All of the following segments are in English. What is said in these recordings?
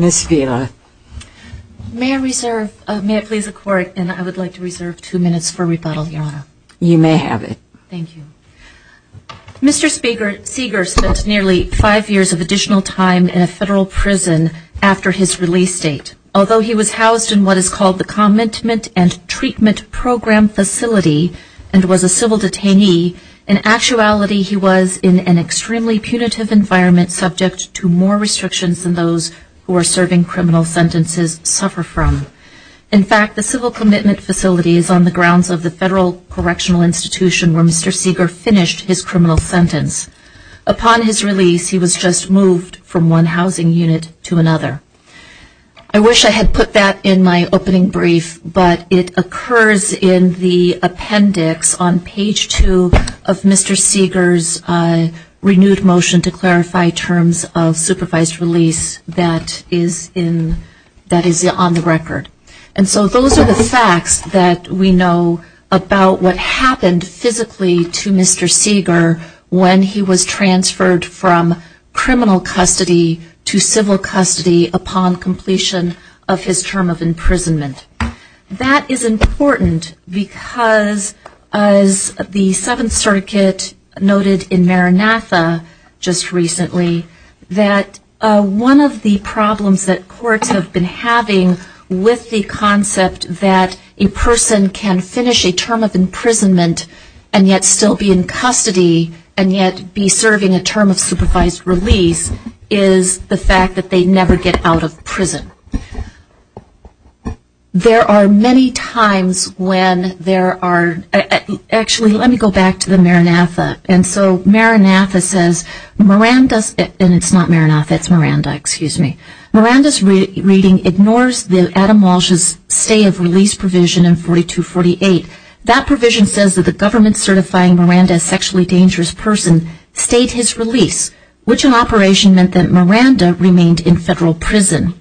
Mr. Speaker, Seger spent nearly five years of additional time in a federal prison after his release date. Although he was housed in what is called the Commentment and Treatment Program facility and was a civil detainee, in actuality he was in an extremely punitive environment subject to more restrictions than those who are serving criminal sentences suffer from. In fact, the Civil Commitment Facility is on the grounds of the Federal Correctional Institution where Mr. Seger finished his criminal sentence. Upon his release, he was just moved from one housing unit to another. I wish I had put that in my opening brief, but it occurs in the appendix on page two of Mr. Seger's renewed motion to clarify terms of supervised release that is on the record. And so those are the facts that we know about what happened physically to Mr. Seger when he was transferred from criminal custody to civil custody upon completion of his term of imprisonment. That is important because, as the Seventh Circuit noted in Maranatha just recently, that one of the problems that courts have been having with the concept that a person can finish a term of imprisonment and yet still be in custody and yet be serving a term of supervised release is the fact that they never get out of prison. There are many times when there are, actually, let me go back to the Maranatha. And so Maranatha says, Miranda's, and it's not Maranatha, it's Miranda, excuse me. Miranda's reading ignores Adam Walsh's stay of release provision in 4248. That provision says that the government certifying Miranda as a sexually dangerous person stayed his release from federal prison.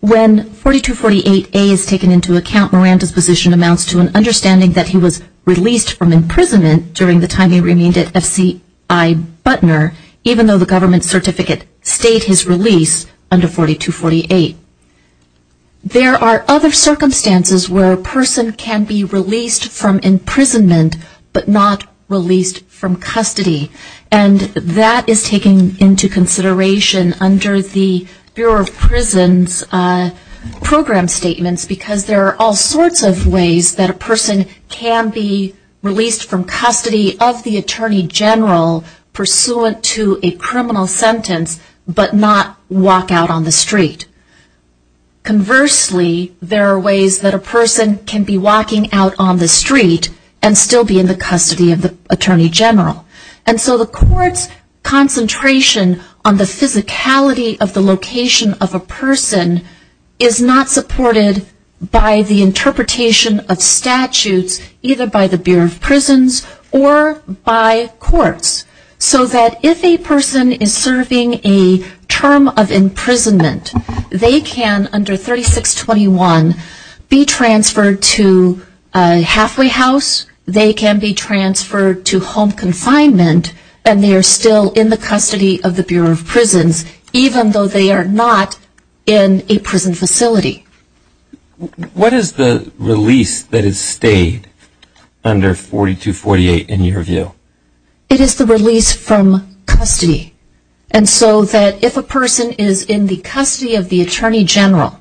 When 4248A is taken into account, Miranda's position amounts to an understanding that he was released from imprisonment during the time he remained at F.C.I. Butner, even though the government certificate stayed his release under 4248. There are other circumstances where a person can be released from imprisonment but not released from custody. And that is taken into consideration under the Bureau of Prisons program statements because there are all sorts of ways that a person can be released from custody of the Attorney General pursuant to a criminal sentence but not walk out on the street. Conversely, there are ways that a person can be walking out on the street and still be in the custody of the Attorney General. And so the court's concentration on the physicality of the location of a person is not supported by the interpretation of statutes either by the Bureau of Prisons or by courts. So that if a person is serving a term of imprisonment, they can, under 3621, be transferred to a halfway house, they can be transferred to home confinement, and they are still in the custody of the Bureau of Prisons even though they are not in a prison facility. What is the release that has stayed under 4248 in your view? It is the release from custody. And so that if a person is in the custody of the Attorney General,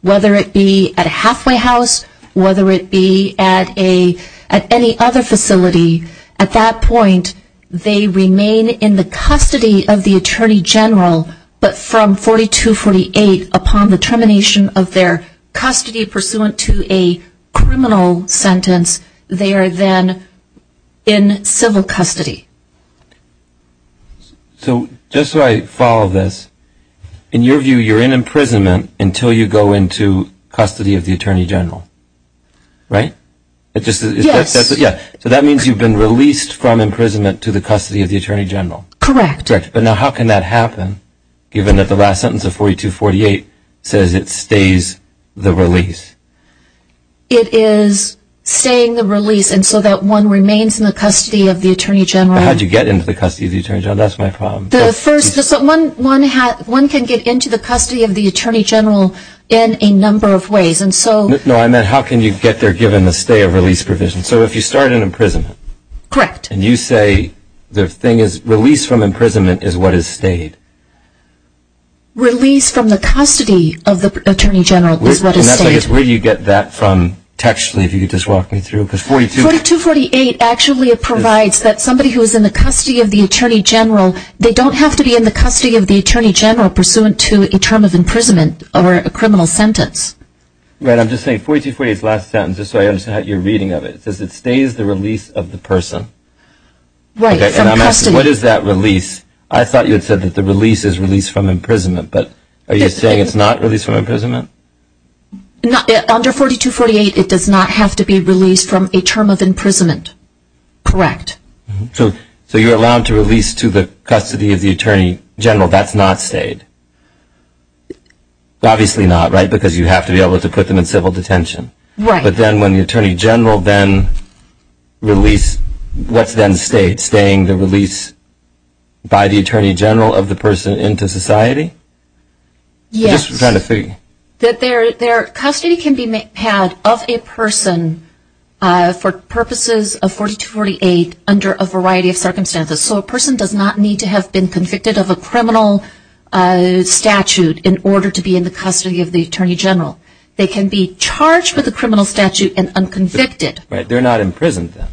whether it be at a halfway house, whether it be at any other facility, at that point they remain in the custody of the Attorney General but from 4248 upon the termination of their custody pursuant to a criminal sentence, they are then in civil custody. So just so I follow this, in your view, you're in imprisonment until you go into custody of the Attorney General, right? Yes. So that means you've been released from imprisonment to the custody of the Attorney General. Correct. But now how can that happen given that the last sentence of 4248 says it stays the release? It is staying the release and so that one remains in the custody of the Attorney General. But how do you get into the custody of the Attorney General? That's my problem. One can get into the custody of the Attorney General in a number of ways and so... No, I meant how can you get there given the stay of release provision? So if you start in imprisonment... Correct. And you say the thing is release from imprisonment is what is stayed. Release from the custody of the Attorney General is what is stayed. And that's like where do you get that from textually if you could just walk me through because 4248... 4248 actually provides that somebody who is in the custody of the Attorney General, they don't have to be in the custody of the Attorney General pursuant to a term of imprisonment or a criminal sentence. Right, I'm just saying 4248 is the last sentence just so I understand how you're reading of it. It says it stays the release of the person. Right, from custody. What is that release? I thought you had said that the release is release from imprisonment but are you saying it's not release from imprisonment? Under 4248 it does not have to be released from a term of imprisonment. Correct. So you're allowed to release to the custody of the Attorney General, that's not stayed. Obviously not, right, because you have to be able to put them in civil detention. Right. But then when the Attorney General then released, what's then staying? The release by the Attorney General of the person into society? Yes. Just trying to figure... That their custody can be had of a person for purposes of 4248 under a variety of circumstances. So a person does not need to have been convicted of a criminal statute in order to be in the custody of the Attorney General. They can be charged with a criminal statute and unconvicted. Right, they're not imprisoned then.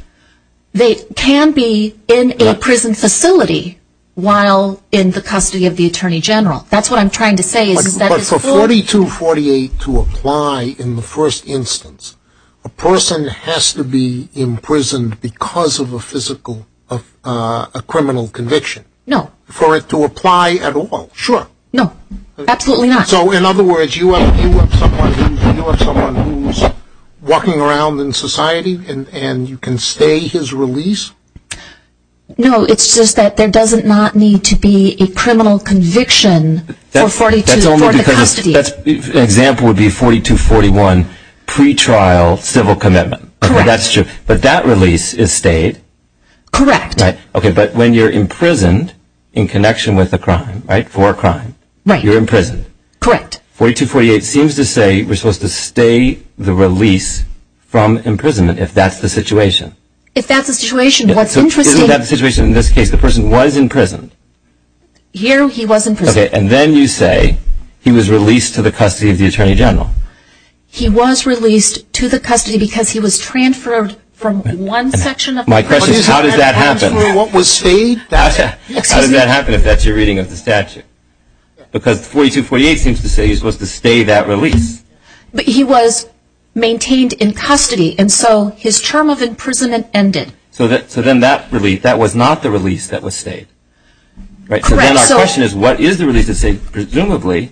They can be in a prison facility while in the custody of the Attorney General. That's what I'm trying to say is that it's... But for 4248 to apply in the first instance, a person has to be imprisoned because of a physical of a criminal conviction. No. For it to apply at all, sure. No, absolutely not. So in other words, you have someone who's walking around in society and you can stay his release? No, it's just that there does not need to be a criminal conviction for the custody. Example would be 4241, pretrial civil commitment. Correct. But that release is stayed. Correct. But when you're imprisoned in connection with a crime, right, for a crime, you're imprisoned. Correct. 4248 seems to say we're supposed to stay the release from imprisonment if that's the situation. If that's the situation, what's interesting... Isn't that the situation in this case? The person was imprisoned. Here he was imprisoned. And then you say he was released to the custody of the Attorney General. He was released to the custody because he was transferred from one section of the... My question is how did that happen? What was stayed? 4248 seems to say he's supposed to stay that release. But he was maintained in custody and so his term of imprisonment ended. So then that release, that was not the release that was stayed. Correct. So then our question is what is the release that's stayed? Presumably,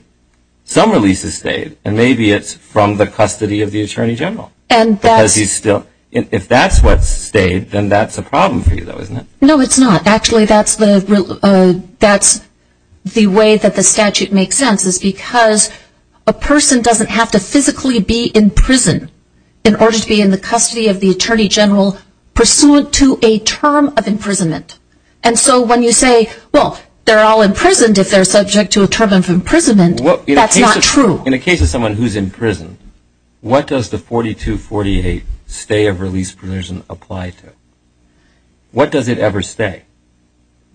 some release is stayed and maybe it's from the custody of the Attorney General. And that's... Because he's still... If that's what's stayed, then that's a problem for you though, isn't it? No, it's not. Actually, that's the way that the statute makes sense is because a person doesn't have to physically be in prison in order to be in the custody of the Attorney General pursuant to a term of imprisonment. And so when you say, well, they're all imprisoned if they're subject to a term of imprisonment, that's not true. In a case of someone who's in prison, what does the 4248 stay of release provision apply to? What does it ever stay?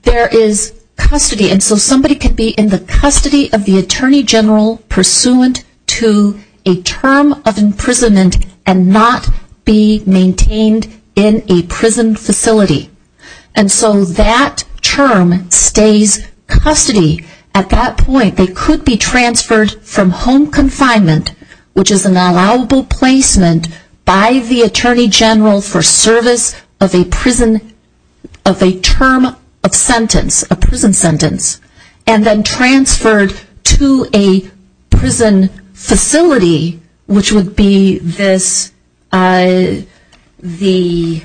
There is custody and so somebody can be in the custody of the Attorney General pursuant to a term of imprisonment and not be maintained in a prison facility. And so that term stays custody. At that point, they could be transferred from home confinement, which is an allowable placement by the Attorney General for service of a prison, of a term of sentence, a prison sentence, and then transferred to a prison facility, which would be this, the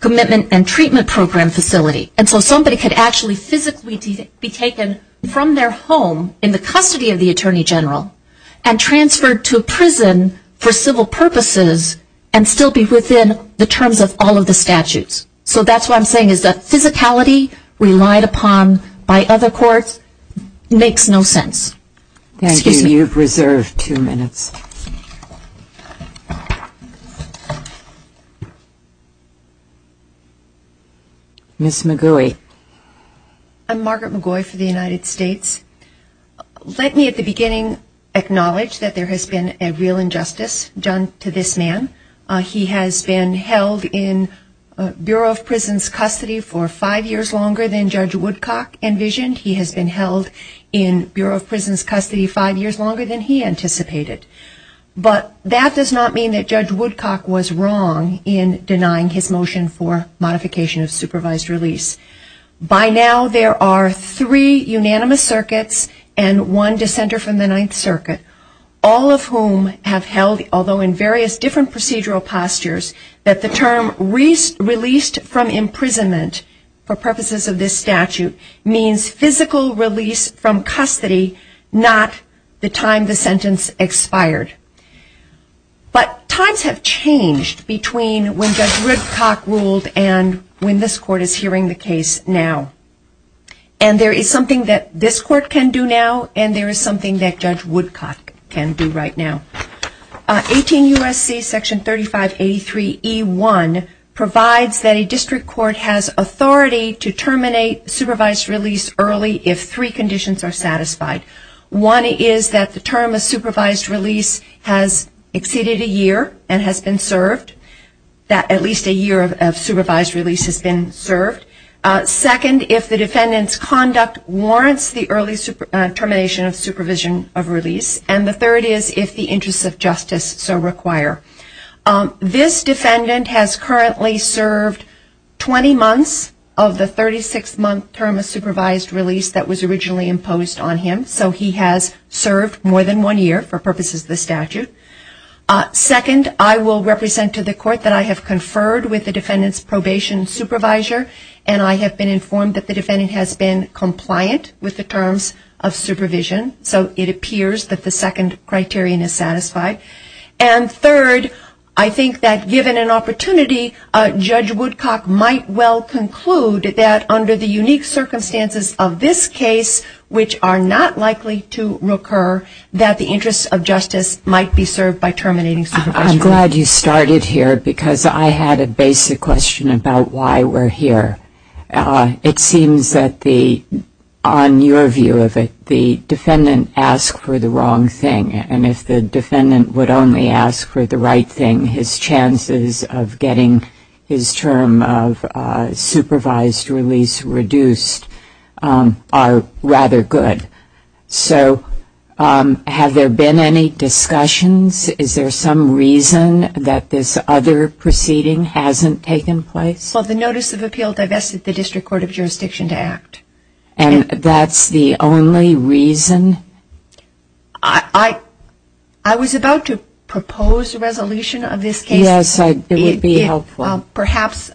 Commitment and Treatment Program facility. And so somebody could actually physically be taken from their home in the custody of a prison for civil purposes and still be within the terms of all of the statutes. So that's what I'm saying is that physicality relied upon by other courts makes no sense. Excuse me. Thank you. You've reserved two minutes. Ms. McGouey. I'm Margaret McGouey for the United States. Let me at the beginning acknowledge that there has been a real injustice done to this man. He has been held in Bureau of Prisons custody for five years longer than Judge Woodcock envisioned. He has been held in Bureau of Prisons custody five years longer than he anticipated. But that does not mean that Judge Woodcock was wrong in denying his motion for modification of supervised release. By now there are three unanimous circuits and one dissenter from the Ninth Circuit, all of whom have held, although in various different procedural postures, that the term released from imprisonment for purposes of this statute means physical release from custody, not the time the sentence expired. But times have changed between when Judge Woodcock ruled and when this Court is hearing the case now. And there is something that this Court can do now and there is something that Judge Woodcock can do right now. 18 U.S.C. section 3583E1 provides that a district court has authority to terminate supervised release early if three conditions are satisfied. One is that the term of supervised release has exceeded a year and has been served, that at least a year of supervised release has been served. Second, if the defendant's conduct warrants the early termination of supervision of release. And the third is if the interests of justice so require. This defendant has currently served 20 months of the 36-month term of supervised release that was originally imposed on him. So he has served more than one year for purposes of this statute. Second, I will represent to the Court that I have conferred with the defendant's probation supervisor and I have been informed that the defendant has been compliant with the terms of supervision. So it appears that the second criterion is satisfied. And third, I think that given an opportunity, Judge Woodcock might well conclude that under the unique circumstances of this case, which are not likely to recur, that the interests of justice might be served by terminating supervision. I'm glad you started here because I had a basic question about why we're here. It seems that the, on your view of it, the defendant asked for the wrong thing. And if the defendant would only ask for the right thing, his chances of getting his term of supervised release reduced are rather good. So have there been any discussions? Is there some reason that this other proceeding hasn't taken place? Well, the Notice of Appeal divested the District Court of Jurisdiction to act. And that's the only reason? I was about to propose a resolution of this case. Yes, it would be helpful. Perhaps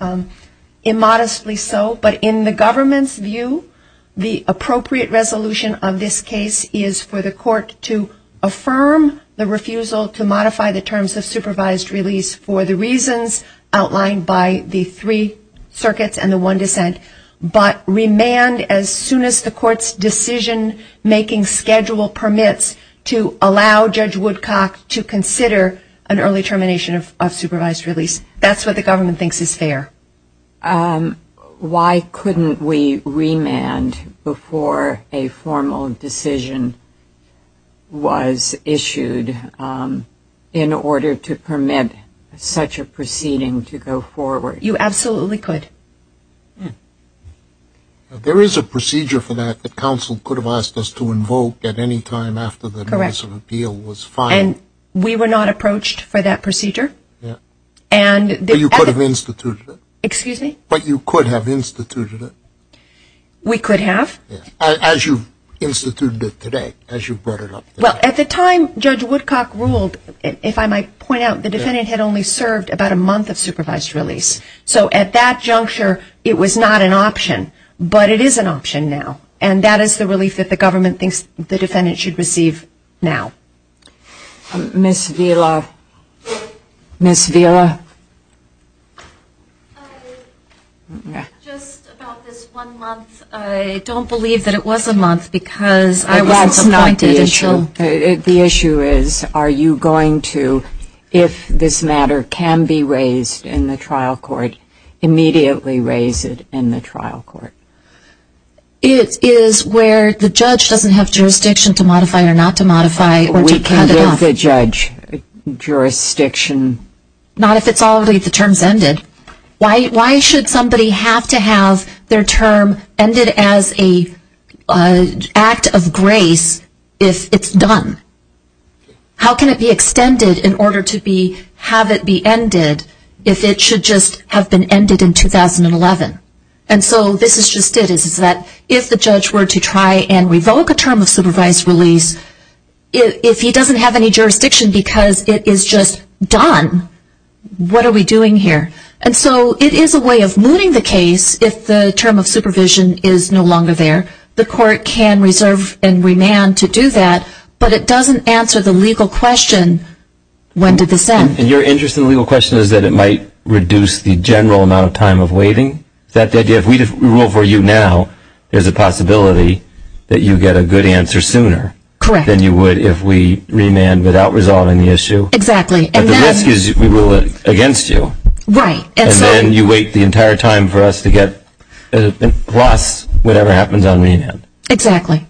immodestly so. But in the government's view, the appropriate resolution of this case is for the court to affirm the refusal to modify the terms of supervised release for the reasons outlined by the three circuits and the one dissent, but remand as soon as the court's decision making schedule permits to allow Judge Woodcock to consider an early termination of supervised release. That's what the government thinks is fair. Why couldn't we remand before a formal decision was issued in order to permit such a proceeding to go forward? You absolutely could. There is a procedure for that that counsel could have asked us to invoke at any time after the Notice of Appeal was filed. Correct. And we were not approached for that procedure. And you could have instituted it. Excuse me? But you could have instituted it. We could have. As you've instituted it today, as you've brought it up today. Well, at the time Judge Woodcock ruled, if I might point out, the defendant had only served about a month of supervised release. So at that juncture, it was not an option. But it is an option now. And that is the relief that the government thinks the defendant should receive now. Ms. Vila? Ms. Vila? Just about this one month, I don't believe that it was a month because I wasn't appointed until... That's not the issue. The issue is, are you going to, if this matter can be raised in the trial court, immediately raise it in the trial court? It is where the judge doesn't have jurisdiction to modify it or not to modify it. We can give the judge jurisdiction. Not if it's already, the term's ended. Why should somebody have to have their term ended as an act of grace if it's done? How can it be extended in order to have it be ended if it should just have been ended in 2011? And so this is just it, is that if the judge were to try and revoke a term of supervised release, if he doesn't have any jurisdiction because it is just done, what are we doing here? And so it is a way of looting the case if the term of supervision is no longer there. The court can reserve and remand to do that. But it doesn't answer the legal question, when did this end? Your interest in the legal question is that it might reduce the general amount of time of waiting? Is that the idea? If we rule for you now, there's a possibility that you get a good answer sooner than you would if we remand without resolving the issue. Exactly. But the risk is we rule against you. Right. And then you wait the entire time for us to get a plus, whatever happens on remand. Exactly.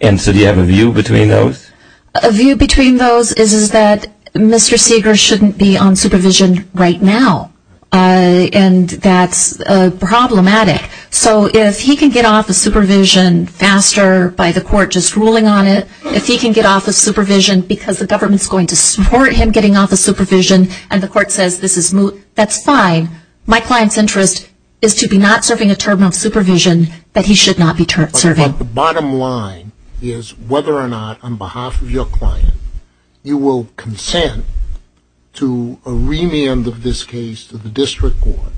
And so do you have a view between those? A view between those is that Mr. Seeger shouldn't be on supervision right now. And that's problematic. So if he can get off of supervision faster by the court just ruling on it, if he can get off of supervision because the government is going to support him getting off of supervision and the court says this is moot, that's fine. My client's interest is to be not serving a term of supervision that he should not be serving. But the bottom line is whether or not on behalf of your client you will consent to a remand of this case to the district court,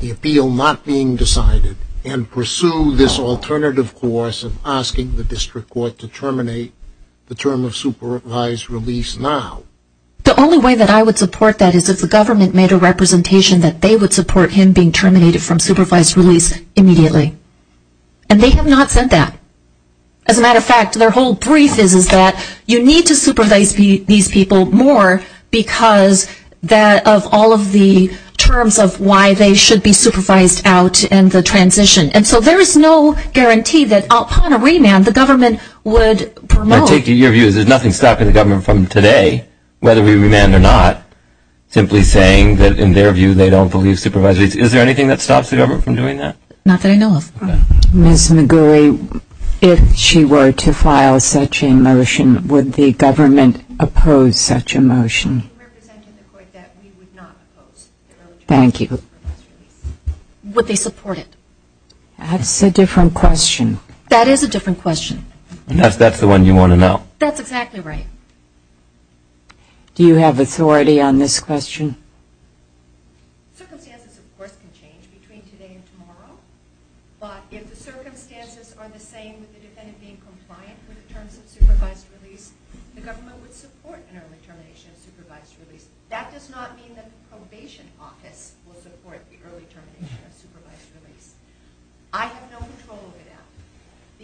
the appeal not being decided, and pursue this alternative course of asking the district court to terminate the term of supervised release now. The only way that I would support that is if the government made a representation that they would support him being terminated from supervised release immediately. And they have not said that. As a matter of fact, their whole brief is that you need to supervise these people more because of all of the terms of why they should be supervised out in the transition. And so there is no guarantee that upon a remand the government would promote. I'm taking your views. There's nothing stopping the government from today, whether we remand or not, simply saying that in their view they don't believe supervised release. Is there anything that stops the government from doing that? Not that I know of. Okay. Ms. McGuire, if she were to file such a motion, would the government oppose such a motion? Would they support it? That's a different question. That is a different question. That's the one you want to know. That's exactly right. Do you have authority on this question? Circumstances of course can change between today and tomorrow. But if the circumstances are the same with the defendant being compliant with the terms of supervised release, the government would support an early termination of supervised release. That does not mean that the probation office will support the early termination of supervised release. I have no control over that.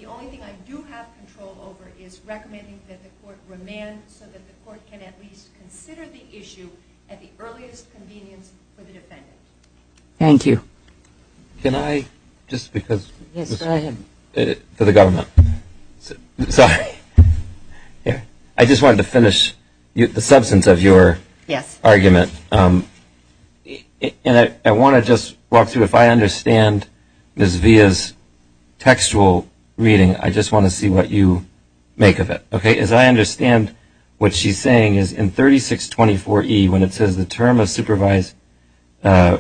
The only thing I do have control over is recommending that the court remand so that the court can at least consider the issue at the earliest convenience for the defendant. Thank you. Can I just because for the government, sorry, here, I just wanted to finish the substance of your argument. Yes. And I want to just walk through if I understand Ms. Villa's textual reading, I just want to see what you make of it. As I understand what she's saying is in 3624E when it says the term of supervised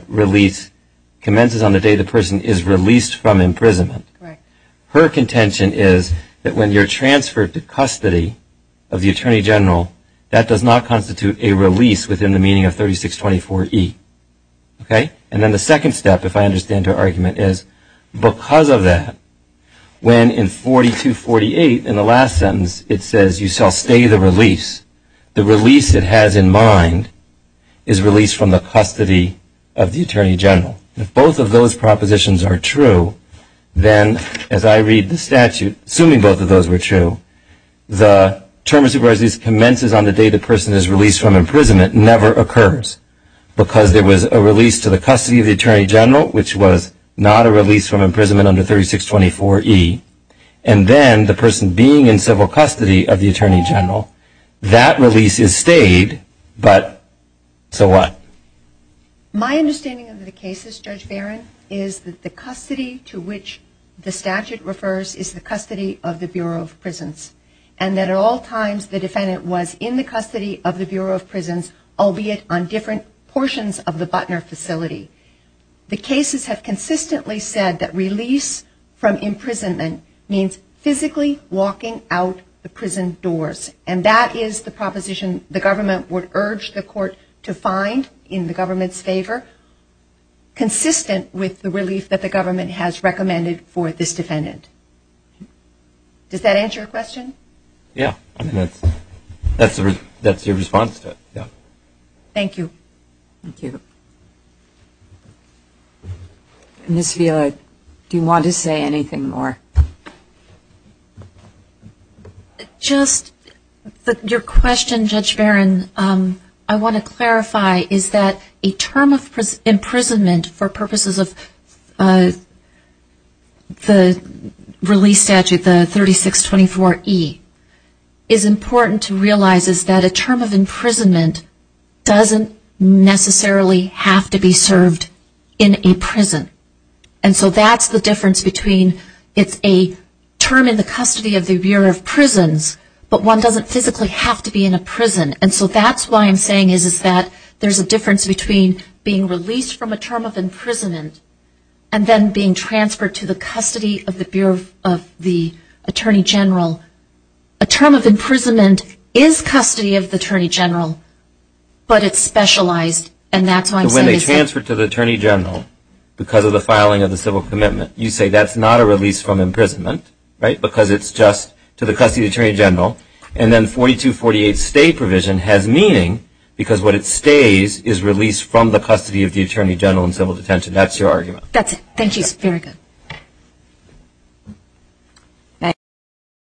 release commences on the day the person is released from imprisonment. Her contention is that when you're transferred to custody of the Attorney General, that does not constitute a release within the meaning of 3624E. And then the second step if I understand her argument is because of that, when in 4248 in the last sentence it says you shall stay the release, the release it has in mind is release from the custody of the Attorney General. If both of those propositions are true, then as I read the statute, assuming both of those were true, the term of supervised release commences on the day the person is released from imprisonment never occurs. Because there was a release to the custody of the Attorney General which was not a release from imprisonment under 3624E. And then the person being in civil custody of the Attorney General, that release is stayed, but so what? My understanding of the cases, Judge Barron, is that the custody to which the statute refers is the custody of the Bureau of Prisons. And that at all times the defendant was in the custody of the Bureau of Prisons, albeit on different portions of the Butner facility. The cases have consistently said that release from imprisonment means physically walking out the prison doors. And that is the proposition the government would urge the court to find in the government's favor, consistent with the relief that the government has recommended for this defendant. Does that answer your question? Yeah. That's your response to it. Thank you. Thank you. Ms. Vila, do you want to say anything more? Just your question, Judge Barron, I want to clarify is that a term of imprisonment for purposes of the release statute, the 3624E, is important to realize is that a term of imprisonment does not physically have to be served in a prison. And so that's the difference between it's a term in the custody of the Bureau of Prisons, but one doesn't physically have to be in a prison. And so that's why I'm saying is that there's a difference between being released from a term of imprisonment and then being transferred to the custody of the Bureau of the Attorney General. A term of imprisonment is custody of the Attorney General, but it's specialized. And that's why I'm saying is that... But when they transfer to the Attorney General because of the filing of the civil commitment, you say that's not a release from imprisonment, right? Because it's just to the custody of the Attorney General. And then 4248 stay provision has meaning because what it stays is release from the custody of the Attorney General in civil detention. That's your argument. That's it. Thank you.